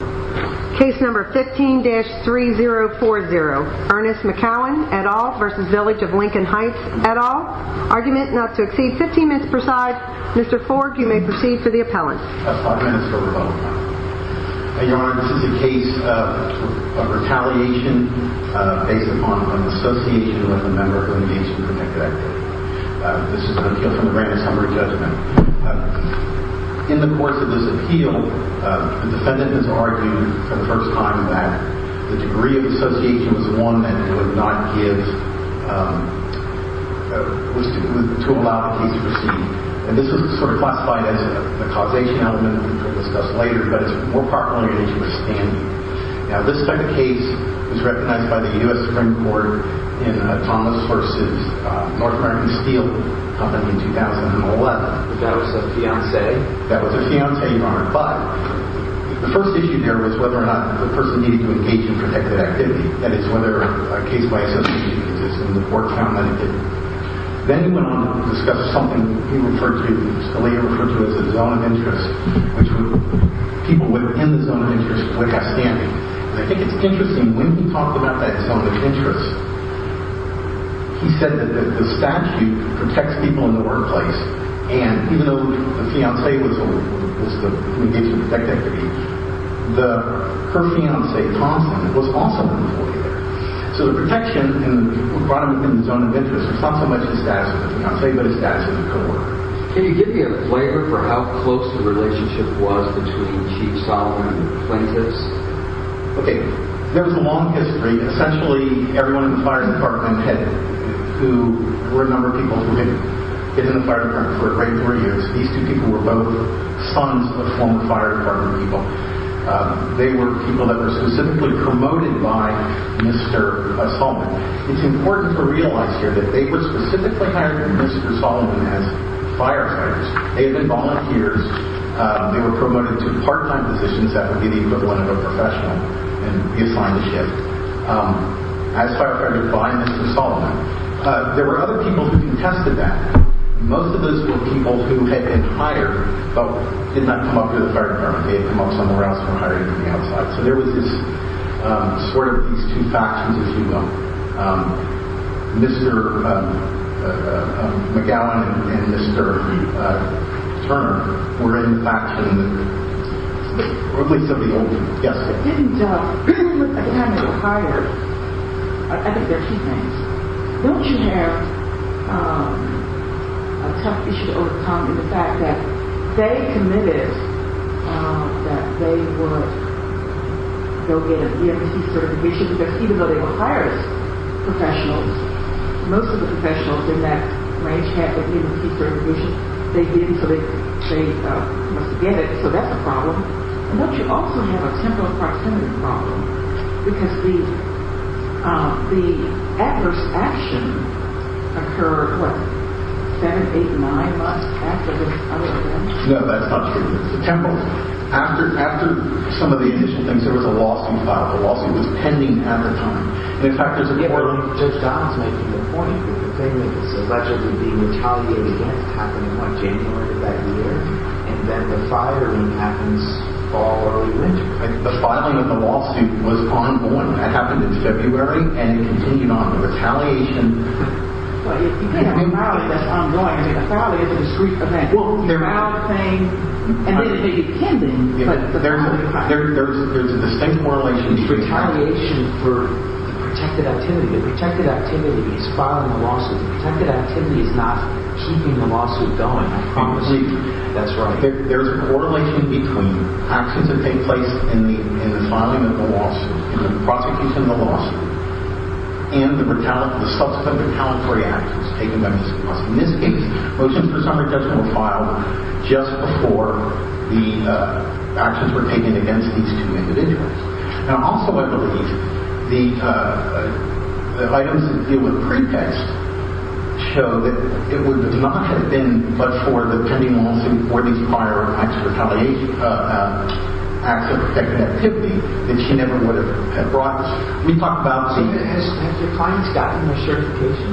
15-3040 Ernest McCowen v. Village of Lincoln Heights Argument not to exceed 15 minutes presides. Mr. Forge, you may proceed to the appellant. 5 minutes for rebuttal. Your Honor, this is a case of retaliation based upon an association with a member of the Engagement Protected Act. This is an appeal from the Granite Summer Judgment. In the course of this appeal, the defendant has argued for the first time that the degree of association was one that would not give, was to allow the case to proceed. And this is sort of classified as a causation element, which we'll discuss later, but it's more popularly an issue of standing. Now, this type of case was recognized by the U.S. Supreme Court in Thomas vs. North American Steel Company in 2011. That was a fiancé? That was a fiancé, Your Honor, but the first issue there was whether or not the person needed to engage in protected activity. That is, whether a case by association existed in the court found that it didn't. Then he went on to discuss something he referred to, which he later referred to as a zone of interest, which people within the zone of interest would have standing. I think it's interesting, when he talked about that zone of interest, he said that the statute protects people in the workplace, and even though the fiancé was the one who engaged in protected activity, her fiancé, Thompson, was also an employee there. So the protection brought him within the zone of interest was not so much his status as a fiancé, but his status as a coworker. Can you give me a flavor for how close the relationship was between Chief Solomon and the plaintiffs? Okay. There was a long history. Essentially, everyone in the fire department had, who were a number of people who had been in the fire department for 3 or 4 years. These two people were both sons of former fire department people. They were people that were specifically promoted by Mr. Solomon. It's important to realize here that they were specifically hired by Mr. Solomon as firefighters. They had been volunteers. They were promoted to part-time positions. That would be the equivalent of a professional, and reassigned to shift as firefighters by Mr. Solomon. There were other people who contested that. Most of those were people who had been hired, but did not come up to the fire department. They had come up somewhere else and were hired on the outside. There was sort of these two factions, as you know. Mr. McGowan and Mr. Turner were in the faction, or at least of the old guests. At the time they were hired, I think there are two things. Don't you have a tough issue to overcome in the fact that they committed that they would go get a DMVC certification, because even though they were fire professionals, most of the professionals in that range had a DMVC certification. They didn't, so they must get it, so that's a problem. Don't you also have a temporal proximity problem? Because the adverse action occurred, what, seven, eight, nine months after this other event? No, that's not true. Temporal. After some of the initial things, there was a lawsuit filed. The lawsuit was pending at the time. In fact, there's a court- The filing of the lawsuit was ongoing. It happened in February, and it continued on. The retaliation— Well, you can't have a rally that's ongoing. I mean, a rally is a discreet event. Well, there— You file a claim, and then it may be pending, but— There's a distinct correlation between— It's retaliation for the protected activity. The protected activity is filing the lawsuit. The protected activity is not keeping the lawsuit going, I promise you. That's right. There's a correlation between actions that take place in the filing of the lawsuit, in the prosecution of the lawsuit, and the subsequent retaliatory actions taken by Ms. Cross. In this case, motions for summary judgment were filed just before the actions were taken against these two individuals. And also, I believe, the items that deal with pretext show that it would not have been but for the pending lawsuit for these prior acts of protected activity that she never would have brought— We talked about— Have your clients gotten their certification?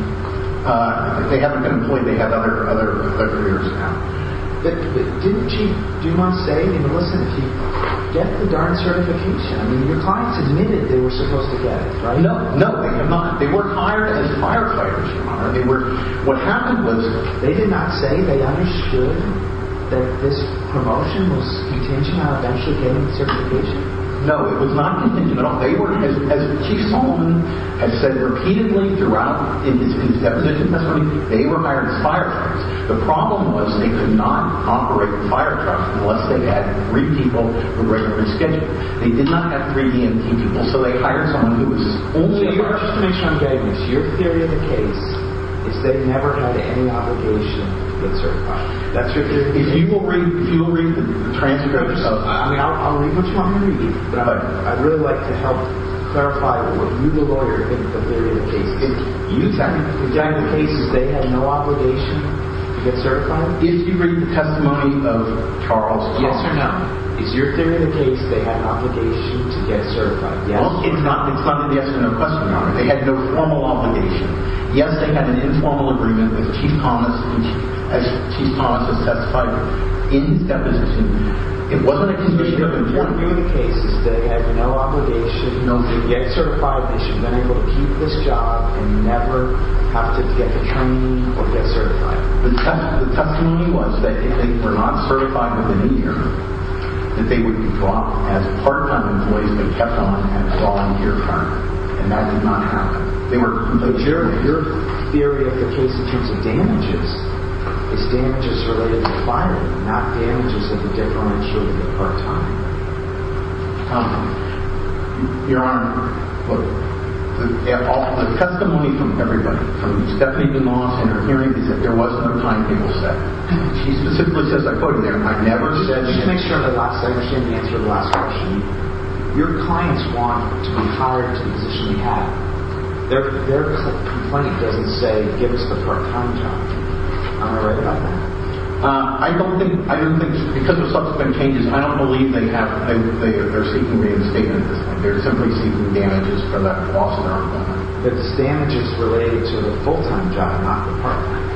They haven't been employed. They have other careers now. Did she— Do you want to say— I mean, listen. Did she get the darn certification? I mean, your clients admitted they were supposed to get it, right? No. No, they have not. They weren't hired as firefighters, Your Honor. They were— What happened was they did not say they understood that this promotion was contingent on eventually getting certification. No, it was not contingent at all. They were— As Chief Sullivan has said repeatedly throughout in his depositions, that's what he— They were hired as firetrucks. The problem was they could not operate firetrucks unless they had three people who were in their schedule. They did not have three EMT people, so they hired someone who was only— So, Your Honor, just to make sure I'm getting this, your theory of the case is they never had any obligation to get certified. That's right. If you will read the transcripts of— I mean, I'll read what you want me to read. But I'd really like to help clarify what you, the lawyer, think of the theory of the case. Exactly. The guy in the case, is they had no obligation to get certified? Did you read the testimony of Charles Thompson? Yes or no. Is your theory of the case they had an obligation to get certified? Yes. Charles did not decline the yes or no question, Your Honor. They had no formal obligation. Yes, they had an informal agreement with Chief Thomas, as Chief Thomas has testified in his deposition. It wasn't a condition of employment. The theory of the case is they had no obligation, no need to get certified, they should have been able to keep this job and never have to get the training or get certified. The testimony was that if they were not certified within a year, that they would be dropped as part-time employees, but kept on at a longer term. And that did not happen. Your theory of the case in terms of damages, is damages related to firing, not damages of the defermentation of the part-time? Your Honor, look, the testimony from everybody, from Stephanie DeMoss and her hearing, is that there was no time table set. She specifically says, I quote her there, and I've never said that. Just to make sure I understand the answer to the last question, your clients want to be hired to the position we have. Their complaint doesn't say, give us the part-time job. Am I right about that? I don't think, because of subsequent changes, I don't believe they're seeking reinstatement at this point. They're simply seeking damages for that loss of their employment. But this damage is related to the full-time job, not the part-time.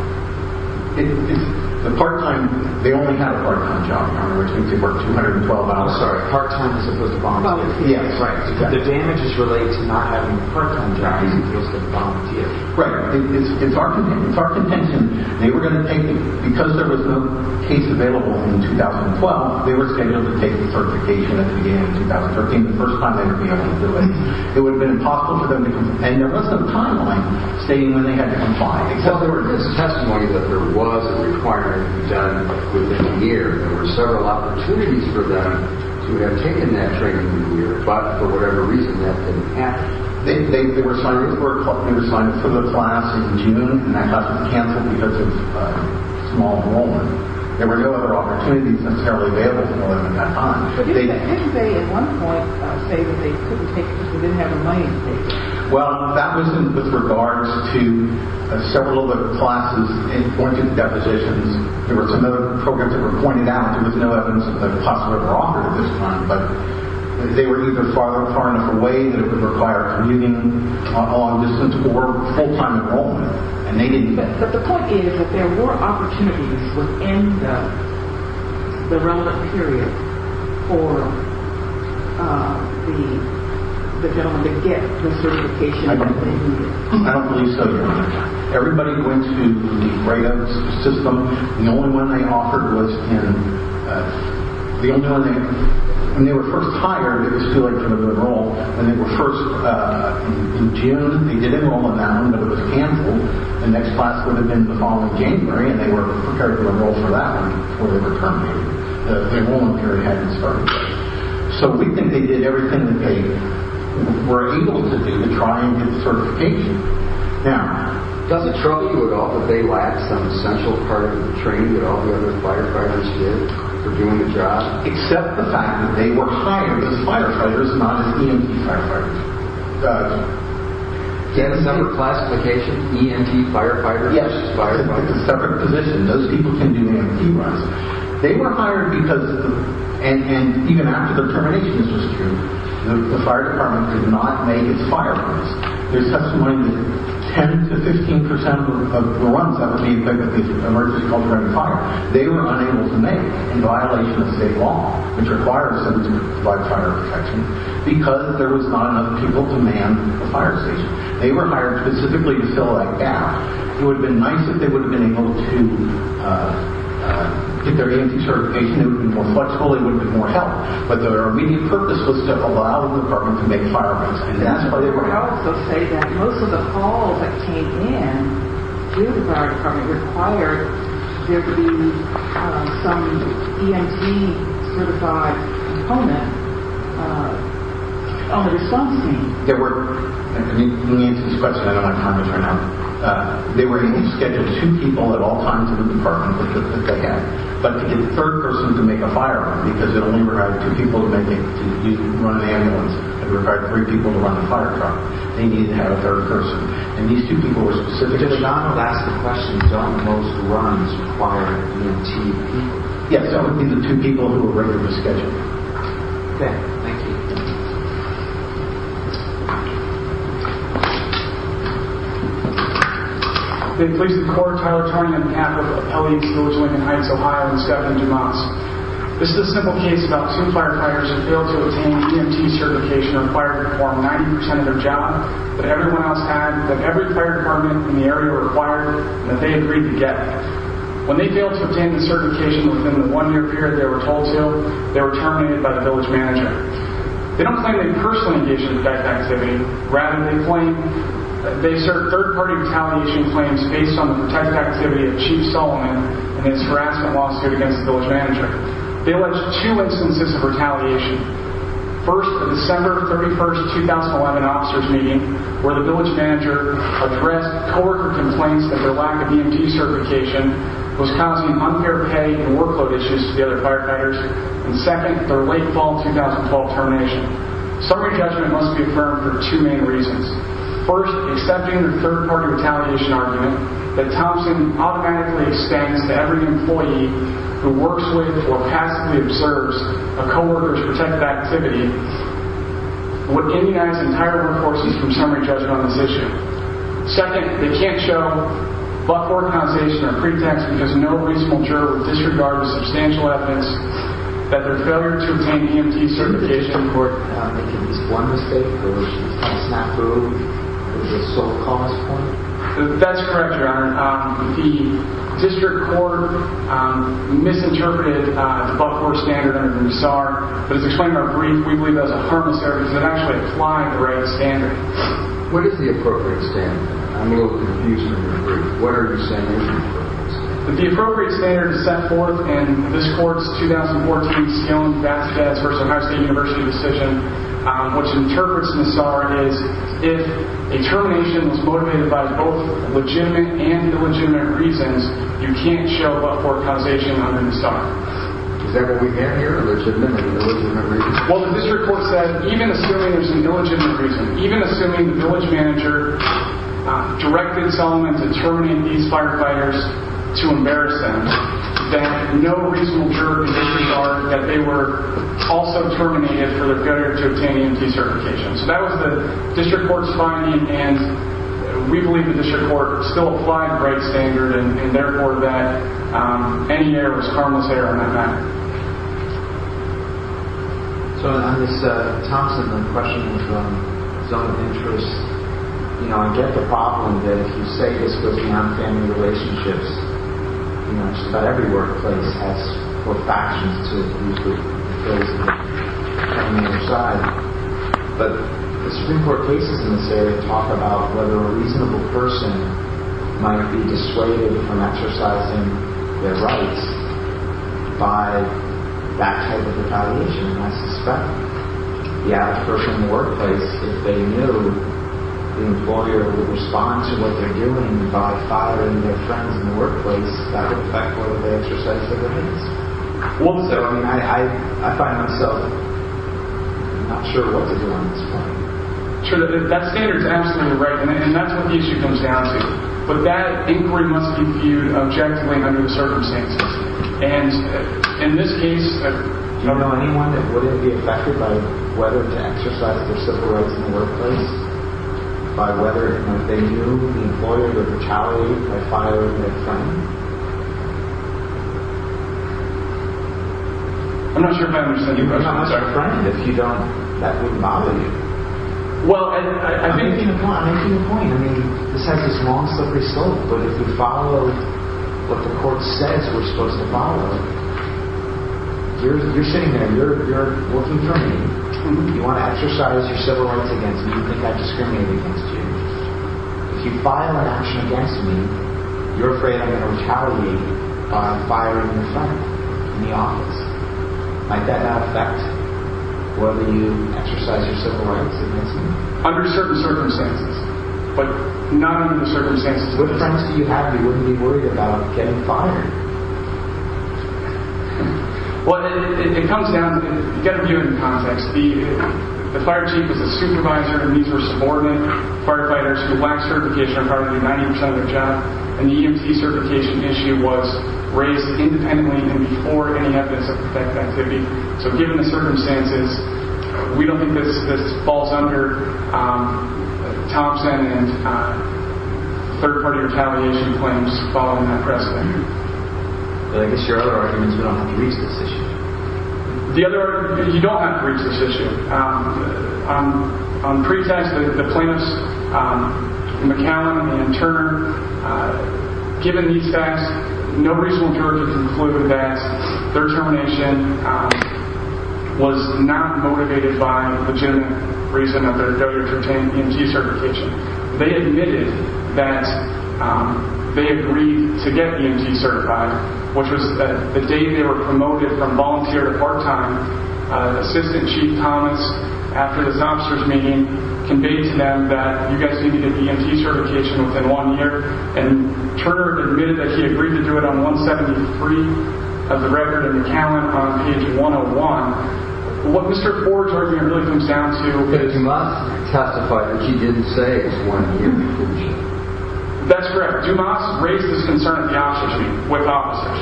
The part-time, they only had a part-time job, Your Honor, which means they worked 212 hours part-time as opposed to volunteer. Yes, right. The damage is related to not having a part-time job as opposed to volunteer. Right. It's our contention. They were going to take, because there was no case available in 2012, they were scheduled to take the certification at the beginning of 2013, the first time they were going to be able to do it. It would have been impossible for them to, and there was no timeline stating when they had to comply. Well, there was testimony that there was a requirement to be done within a year. There were several opportunities for them to have taken that training within a year, but for whatever reason, that didn't happen. They were assigned for the class in June, and that class was canceled because of small enrollment. There were no other opportunities necessarily available for them at that time. But didn't they, at one point, say that they couldn't take it because they didn't have the money to take it? Well, that was with regards to several of the classes in pointed depositions. There were some other programs that were pointed out. There was no evidence that they possibly were offered at this time, but they were either far enough away that it would require commuting on distance or full-time enrollment, and they didn't get it. But the point is that there were opportunities within the relevant period for the gentleman to get the certification that they needed. I don't believe so, Your Honor. Everybody going through the write-up system, the only one they offered was in the only one they had. When they were first hired, it was still a term of enrollment, and they were first in June. They did enroll on that one, but it was canceled. The next class would have been the following January, and they were prepared to enroll for that one before they were terminated. The enrollment period hadn't started yet. So we think they did everything that they were able to do to try and get the certification. Now, does it trouble you at all that they lacked some essential part of the training that all the other firefighters did for doing the job? Except the fact that they were hired as firefighters, not as EMT firefighters. Yes. Some of the classifications, EMT firefighters. Yes, firefighters. It's a separate position. Those people can do EMT runs. They were hired because, and even after the termination, this was true, the fire department could not make its fire runs. There's testimony that 10% to 15% of the runs that would be effected if there's an emergency called a random fire, they were unable to make in violation of state law, which requires them to provide fire protection, because there was not enough people to man a fire station. They were hired specifically to fill that gap. It would have been nice if they would have been able to get their EMT certification. It would have been more flexible. It would have been more help. But their immediate purpose was to allow the department to make fire runs. And that's why they were hired. I would also say that most of the calls that came in to the fire department required there to be some EMT certified component on the response team. Let me answer this question. I don't have time to turn it up. They were scheduled two people at all times in the department that they had. But to get a third person to make a fire run, because it only required two people to run an ambulance, it required three people to run the fire truck, they needed to have a third person. And these two people were specifically hired. John would ask the question, don't most runs require EMT people? Yes, these are two people who were regularly scheduled. Okay, thank you. They placed the court on behalf of Appellee's Village, Lincoln Heights, Ohio, and Stephanie Dumas. This is a simple case about two firefighters who failed to obtain EMT certification required to perform 90% of their job that everyone else had, that every fire department in the area required, and that they agreed to get. When they failed to obtain the certification within the one-year period they were told to, they were terminated by the village manager. They don't claim they personally engaged in the type of activity. Rather, they assert third-party retaliation claims based on the type of activity of Chief Sullivan and his harassment lawsuit against the village manager. They allege two instances of retaliation. First, the December 31, 2011 officers meeting, where the village manager addressed co-worker complaints that their lack of EMT certification was causing unfair pay and workload issues to the other firefighters. And second, their late fall 2012 termination. Summary judgment must be affirmed for two main reasons. First, accepting the third-party retaliation argument that Thompson automatically extends to every employee who works with or passively observes a co-worker's protected activity would immunize entire workforces from summary judgment on this issue. Second, they can't show but-for accusation or pretext because no reasonable juror would disregard the substantial evidence that their failure to obtain the EMT certification report could make at least one mistake, or at least snap through the so-called cause point. That's correct, Your Honor. The district court misinterpreted the Buford standard under the Nassar, but it's explained in our brief. We believe that was a harmless error because it actually applied the right standard. What is the appropriate standard? I'm a little confused here. What are the standards? The appropriate standard is set forth in this court's 2014 Skiln-Vasquez v. Ohio State University decision, which interprets Nassar as if a termination was motivated by both legitimate and illegitimate reasons, you can't show but-for accusation under Nassar. Is that what we hear? A legitimate and illegitimate reason? Well, the district court said, even assuming there's a legitimate reason, even assuming the village manager directed someone to terminate these firefighters to embarrass them, that no reasonable juror conditions are that they were also terminated for their failure to obtain EMT certification. So that was the district court's finding, and we believe the district court still applied the right standard and, therefore, that any error was a harmless error in that matter. So on this Thompson impression of zone of interest, I get the problem that if you say this goes down in family relationships, just about every workplace has four factions to use with. But the Supreme Court cases in this area talk about whether a reasonable person might be dissuaded from exercising their rights by that type of a violation, and I suspect the average person in the workplace, if they knew the employer would respond to what they're doing by firing their friends in the workplace, that would affect whether they exercised their rights. Also, I find myself not sure what to do on this point. Sure, that standard's absolutely right, and that's what the issue comes down to. But that inquiry must be viewed objectively under the circumstances, and in this case... Do you know anyone that wouldn't be affected by whether to exercise their civil rights in the workplace by whether, if they knew the employer would retaliate by firing their friend? I'm not sure if I understand your question. If you don't, that wouldn't bother you. I'm making the point. I mean, this has this long, slippery slope, but if we follow what the court says we're supposed to follow, you're sitting there, you're working for me, you want to exercise your civil rights against me, you think I'd discriminate against you. If you file an action against me, you're afraid I'm going to retaliate by firing your friend in the office. Might that affect whether you exercise your civil rights against me? Under certain circumstances. But not under the circumstances... What defense do you have that you wouldn't be worried about getting fired? Well, it comes down to... Get a view of the context. The fire chief is a supervisor, and these were subordinate firefighters who lacked certification on part of their 90% of their job, and the EMT certification issue was raised independently and before any evidence-of-effect activity. So given the circumstances, we don't think this falls under Thompson and third-party retaliation claims following that precedent. But I guess your other argument is you don't have to reach this issue. The other argument is you don't have to reach this issue. On pretext, the plaintiffs, McAllen and Turner, given these facts, no reasonable juror could conclude that their termination was not motivated by legitimate reason of their W-13 EMT certification. They admitted that they agreed to get EMT certified, which was the day they were promoted from volunteer to part-time. Assistant Chief Thomas, after this officers' meeting, conveyed to them that you guys need to get EMT certification within one year, and Turner admitted that he agreed to do it on 173 of the record, and McAllen on page 101. What Mr. Ford's argument really comes down to is... Dumas testified that he didn't say it was one year before the meeting. That's correct. Dumas raised this concern at the officers' meeting with officers.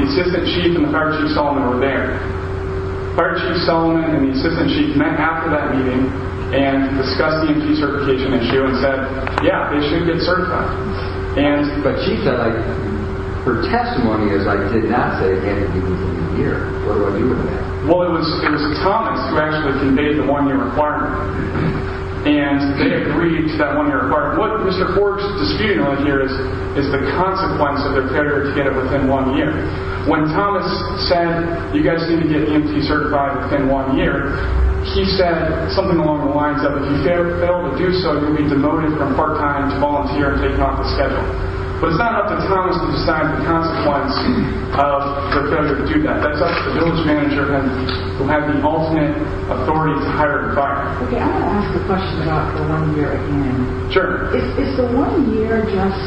The Assistant Chief and the Fire Chief Solomon were there. Fire Chief Solomon and the Assistant Chief met after that meeting and discussed the EMT certification issue and said, yeah, they should get certified. But Chief said, her testimony is, I did not say it can't be completed in a year. What do I do with that? Well, it was Thomas who actually conveyed the one-year requirement, and they agreed to that one-year requirement. What Mr. Ford's disputing on here is the consequence of their failure to get it within one year. When Thomas said, you guys need to get EMT certified within one year, he said something along the lines of, if you fail to do so, you'll be demoted from part-time to volunteer and taken off the schedule. But it's not up to Thomas to decide the consequence of their failure to do that. That's up to the village manager who had the ultimate authority to hire the fire. Okay, I want to ask a question about the one-year again. Sure. Is the one-year just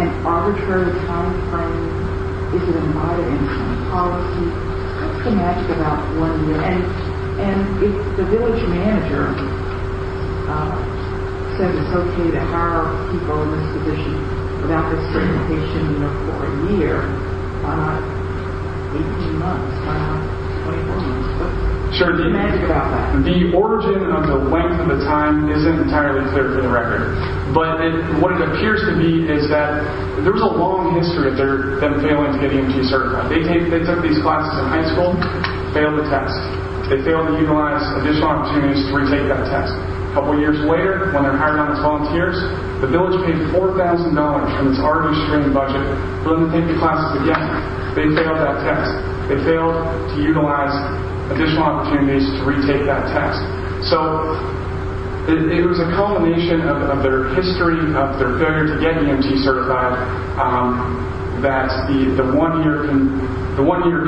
an arbitrary timeframe? Is it a modern policy? It's pretty magic about one year. And the village manager said it's okay to hire people in this position without this certification for a year. Maybe two months, 24 months. It's pretty magic about that. The origin of the length of the time isn't entirely clear for the record. But what it appears to be is that there's a long history of them failing to get EMT certified. They took these classes in high school, failed the test. They failed to utilize additional opportunities to retake that test. A couple years later, when they're hired on as volunteers, the village paid $4,000 from its already streamed budget for them to take the classes again. They failed that test. They failed to utilize additional opportunities to retake that test. So it was a culmination of their history of their failure to get EMT certified that the one-year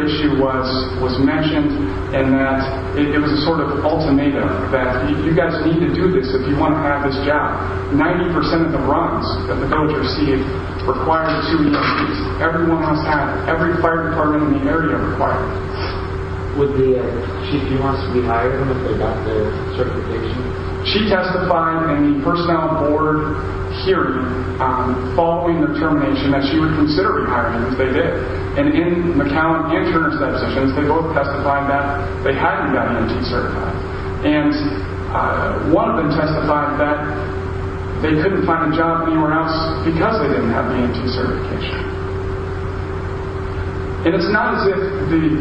issue was mentioned and that it was a sort of ultimatum that you guys need to do this if you want to have this job. Ninety percent of the runs that the village received required two EMTs. Everyone has had it. Every fire department in the area required it. Would the chief, he wants to be hired if they got the certification? She testified in the personnel board hearing following the determination that she would consider rehiring them if they did. And in McAllen and Turner's depositions, they both testified that they hadn't gotten EMT certified. And one of them testified that they couldn't find a job anywhere else because they didn't have the EMT certification. And it's not as if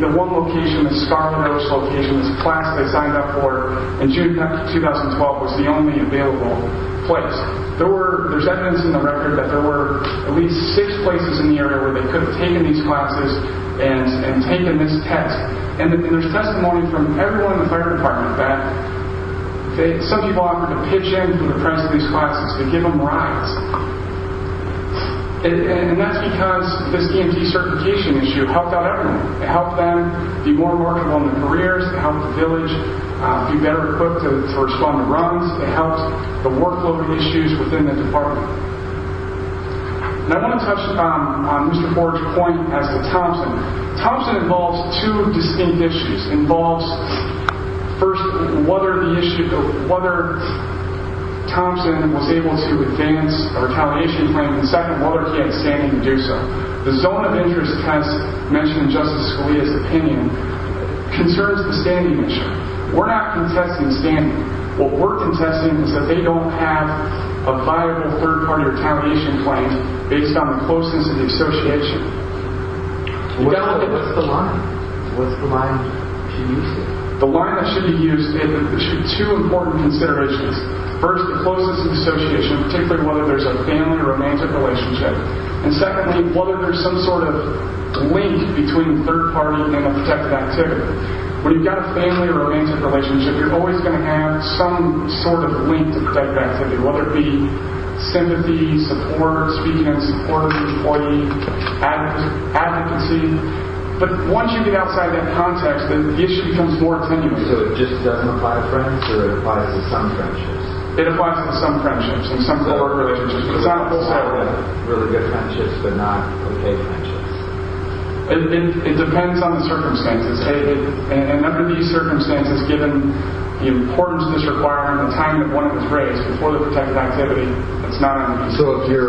the one location, the Scarlet Roach location, the class they signed up for in June 2012 was the only available place. There's evidence in the record that there were at least six places in the area where they could have taken these classes and taken this test. And there's testimony from everyone in the fire department that some people offered to pitch in for the price of these classes to give them rides. And that's because this EMT certification issue helped out everyone. It helped them be more remarkable in their careers. It helped the village be better equipped to respond to runs. It helped the workload issues within the department. And I want to touch on Mr. Ford's point as to Thompson. Thompson involves two distinct issues. It involves, first, whether Thompson was able to advance a retaliation plan, and second, whether he had standing to do so. The zone of interest test mentioned in Justice Scalia's opinion concerns the standing issue. We're not contesting standing. What we're contesting is that they don't have a viable third-party retaliation plan based on the closeness of the association. What's the line? What's the line to use? The line that should be used is two important considerations. First, the closeness of the association, particularly whether there's a family or romantic relationship. And secondly, whether there's some sort of link between the third-party and the protected activity. When you've got a family or romantic relationship, you're always going to have some sort of link to protected activity, whether it be sympathy, support, speaking in support of the employee, advocacy. But once you get outside that context, then the issue becomes more tenuous. So it just doesn't apply to friends, or it applies to some friendships? It applies to some friendships and some sort of relationships. So it's not really good friendships, but not okay friendships? It depends on the circumstances. And under these circumstances, given the importance of this requirement at the time of when it was raised, before the protected activity, it's not on the table. So if you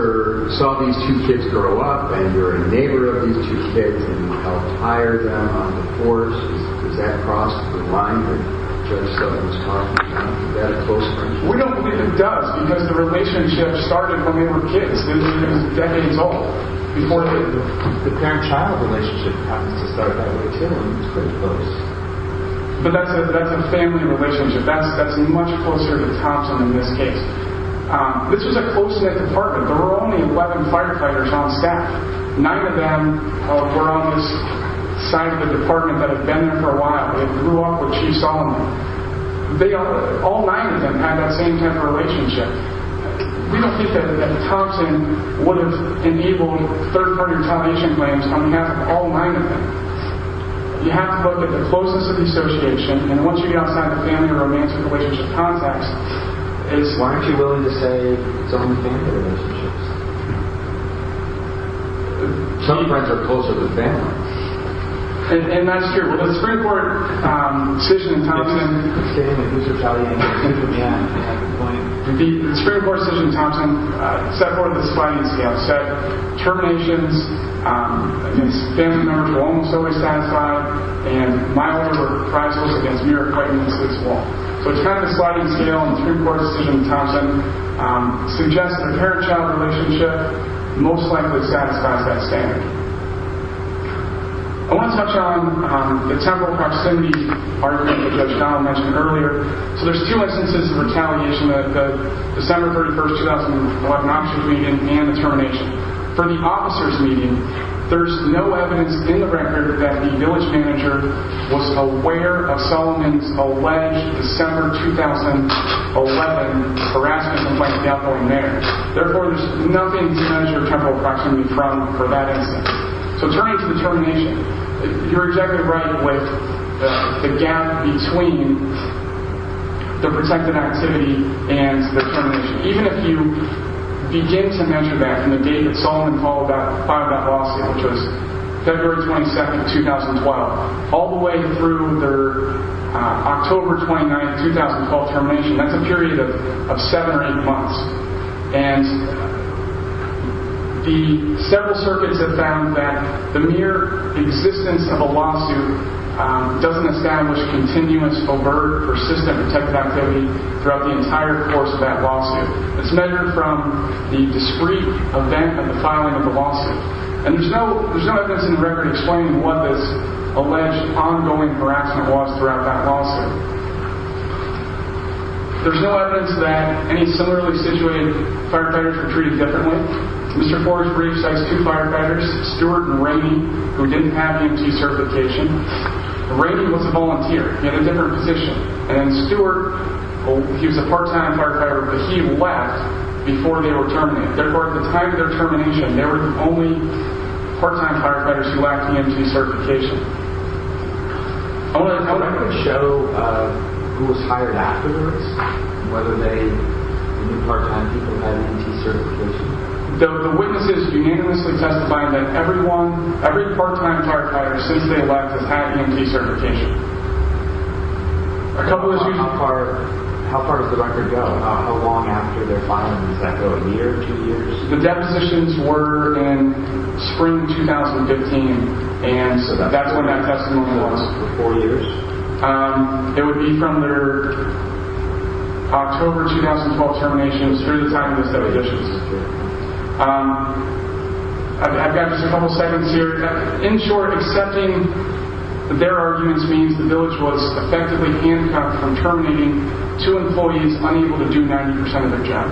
saw these two kids grow up, and you're a neighbor of these two kids, and you helped hire them on the force, does that cross the line that Judge Sullivan's talking about, that a close friendship? We don't believe it does, because the relationship started when they were kids. It was decades old, before the parent-child relationship happened to start that way, too. It was pretty close. But that's a family relationship. That's much closer to Thompson in this case. This was a close-knit department. There were only 11 firefighters on staff. Nine of them were on this side of the department that had been there for a while, and grew up with Chief Sullivan. All nine of them had that same type of relationship. We don't think that Thompson would have enabled third-party retaliation claims on behalf of all nine of them. You have to look at the closeness of the association, and once you get outside of the family or romantic relationship context, it's... Why aren't you willing to say it's only family relationships? Some of our kids are closer with family. And that's true. The Supreme Court decision in Thompson set forth a sliding scale. It said terminations against family members were almost always satisfied, and milder reprisals against mere acquaintances were. So it's kind of a sliding scale, and the Supreme Court decision in Thompson suggests that a parent-child relationship most likely satisfies that standard. I want to touch on the temporal proximity argument that Judge Donald mentioned earlier. So there's two instances of retaliation, the December 31, 2011, officers' meeting and the termination. For the officers' meeting, there's no evidence in the record that the village manager was aware of Sullivan's alleged December 2011 harassment complaint that got going there. Therefore, there's nothing to measure temporal proximity from for that instance. So turning to the termination, you're exactly right with the gap between the protected activity and the termination, even if you begin to measure that from the date that Sullivan filed that lawsuit, which was February 22, 2012, all the way through their October 29, 2012 termination. That's a period of seven or eight months, and several circuits have found that the mere existence of a lawsuit doesn't establish continuous, overt, persistent protected activity throughout the entire course of that lawsuit. It's measured from the discrete event of the filing of the lawsuit, and there's no evidence in the record explaining what this alleged ongoing harassment was throughout that lawsuit. There's no evidence that any similarly situated firefighters were treated differently. Mr. Forge-Reeves cites two firefighters, Stewart and Rainey, who didn't have EMT certification. Rainey was a volunteer. He had a different position. And Stewart, he was a part-time firefighter, but he left before they were terminated. Therefore, at the time of their termination, they were the only part-time firefighters who lacked EMT certification. I want to show who was hired afterwards and whether they knew part-time people had EMT certification. The witnesses unanimously testify that everyone, every part-time firefighter since they left has had EMT certification. How far does the record go? How long after their filing does that go? A year, two years? The depositions were in spring 2015, and that's when that testimony was. Four years? It would be from their October 2012 terminations through the time of those two additions. I've got just a couple of statements here. In short, accepting their arguments means the village was effectively handcuffed from terminating two employees unable to do 90% of their job.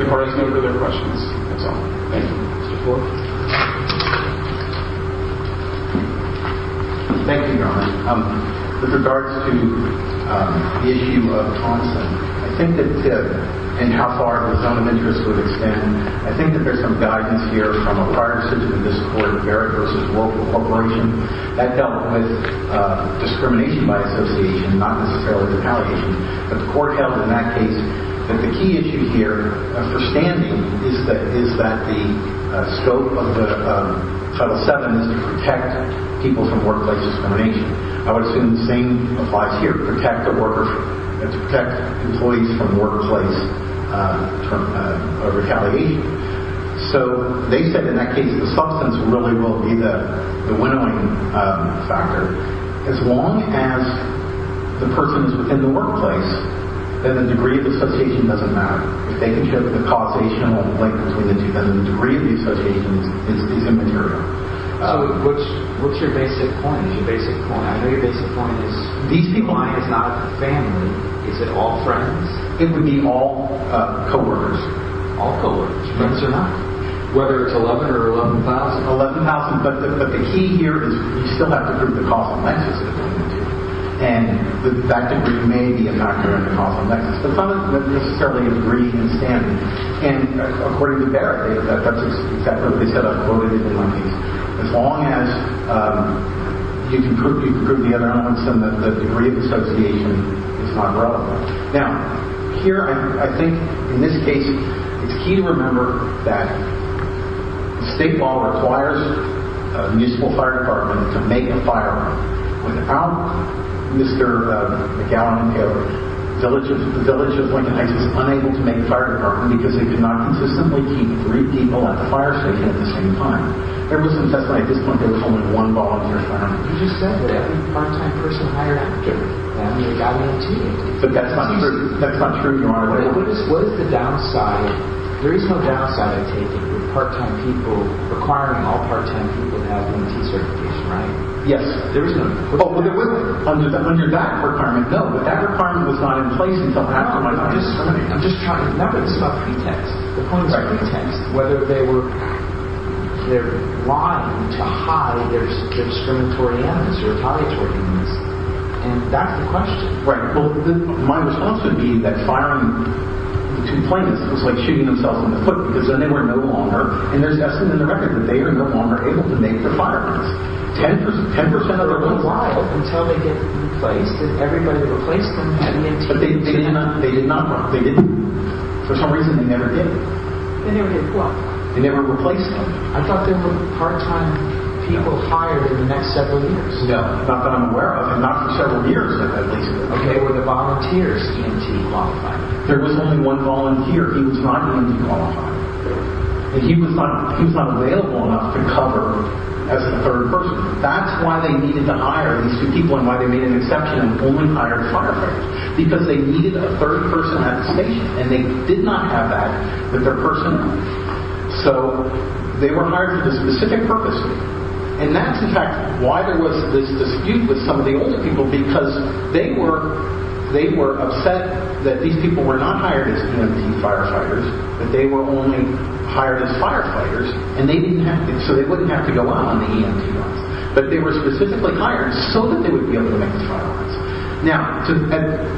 The court has no further questions. That's all. Thank you, Mr. Forge. Thank you, Your Honor. With regards to the issue of Tonson, I think that in how far the sum of interest would extend, I think that there's some guidance here from a prior decision of this court, Barrett v. Local Corporation, that dealt with discrimination by association, not necessarily retaliation. But the court held in that case that the key issue here for standing is that the scope of the Title VII is to protect people from workplace discrimination. I would assume the same applies here, to protect employees from workplace retaliation. So they said in that case the substance really will be the winnowing factor. As long as the person's in the workplace, then the degree of association doesn't matter. If they can show the causational link between the two, then the degree of the association is immaterial. So what's your basic point? Your basic point, I know your basic point is these people aren't a family. Is it all friends? It would be all co-workers. All co-workers. Friends or not? Whether it's 11 or 11,000. 11,000. But the key here is you still have to prove the causal links between the two. And that degree may be a factor in the causal links. But some of them wouldn't necessarily agree in standing. And according to Barrett, that's exactly what they said. I've quoted it in one piece. As long as you can prove the other elements, then the degree of association is not relevant. Now, here I think in this case it's key to remember that state law requires a municipal fire department to make a fire. Without Mr. McGowan, the village of Lincoln Heights is unable to make a fire department because they could not consistently keep three people at the fire station at the same time. There was an assessment at this point that there was only one volunteer fireman. You just said that every part-time person hired after him. I mean, I went to you. But that's not true. That's not true, Your Honor. What is the downside? There is no downside, I take it, with part-time people requiring all part-time people to have M.T. certification, right? Yes, there is none. Under that requirement, no. But that requirement was not in place until after my fire. I'm just trying to remember the stuff you text, the points I text, whether they were lying to hide their discriminatory animus or retaliatory animus. And that's the question. Right. Well, then my response would be that firing two plaintiffs was like shooting themselves in the foot because then they were no longer, and there's an estimate in the record that they are no longer able to make the firearms. Ten percent? Ten percent. But they're going to lie until they get replaced. If everybody replaced them at M.T. But they did not run. They didn't. For some reason, they never did. They never did what? They never replaced them. I thought there were part-time people hired in the next several years. No. Not that I'm aware of. And not for several years, at least. Okay, were the volunteers M.T. qualified? There was only one volunteer. He was not M.T. qualified. And he was not available enough to cover as a third person. That's why they needed to hire these two people and why they made an exception and only hired firefighters. Because they needed a third person at the station, and they did not have that with their personnel. So they were hired for this specific purpose. And that's, in fact, why there was this dispute with some of the older people, because they were upset that these people were not hired as M.T. firefighters, that they were only hired as firefighters, and they didn't have to. So they wouldn't have to go out on the M.T. lines. But they were specifically hired so that they would be able to make the fire lines. Now,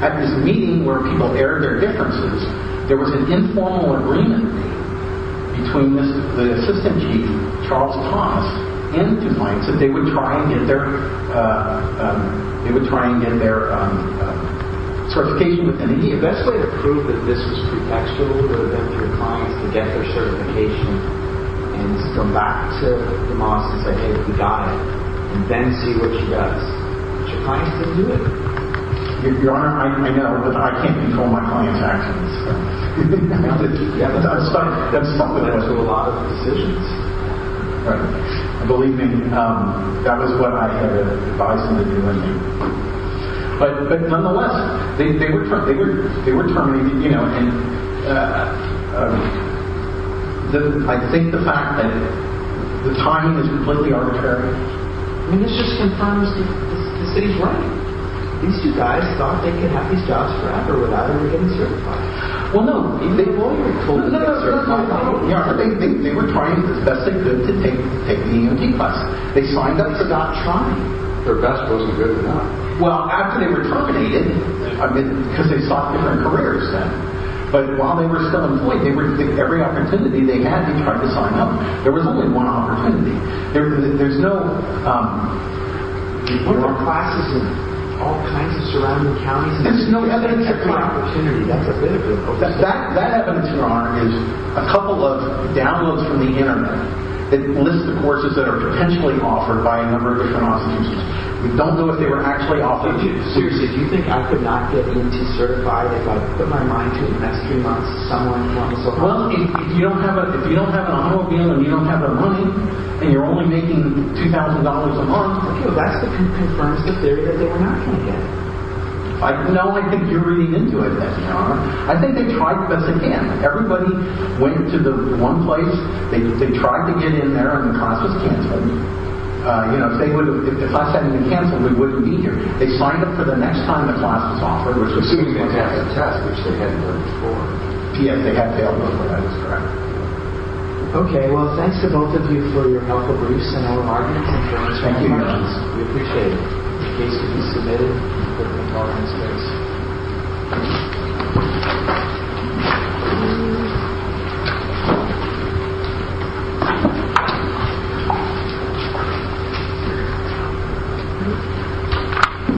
at this meeting where people aired their differences, there was an informal agreement made between the assistant chief, Charles Thomas, and DuPont, that they would try and get their certification. And the best way to prove that this was pretextual would have been for your clients to get their certification and to come back to DuPont and say, hey, we got it, and then see what she does. But your clients didn't do it. Your Honor, I know, but I can't control my clients' actions. I mean, that's a lot of decisions. Believe me, that was what I had advised them to do. But nonetheless, they were terminating, you know, and I think the fact that the timing is completely arbitrary. I mean, it's just conformist. The city's right. These two guys thought they could have these jobs forever without ever getting certified. Well, no, they were told to get certified. They were trying as best they could to take the EMT class. They signed up to not try. Their best wasn't good enough. Well, after they were terminated, I mean, because they sought different careers then. But while they were still employed, every opportunity they had to try to sign up, there was only one opportunity. There's no more classes in all kinds of surrounding counties. There's no other opportunity. That evidence, Your Honor, is a couple of downloads from the Internet. It lists the courses that are potentially offered by a number of different institutions. We don't know if they were actually offered. Seriously, do you think I could not get EMT certified if I put my mind to investing on someone else? Well, if you don't have an automobile and you don't have the money and you're only making $2,000 a month, that's the conformist theory that they were not going to get. No, I think you're reading into it, Your Honor. I think they tried as best they can. Everybody went to the one place. They tried to get in there, and the class was canceled. You know, if the class hadn't been canceled, we wouldn't be here. They signed up for the next time the class was offered, which was 2 p.m. test, which they hadn't done before. P.m. they had failed, but that is correct. Okay, well, thanks to both of you for your helpful briefs and your arguments. Thank you, Your Honor. We appreciate it. The case can be submitted for the conformance case.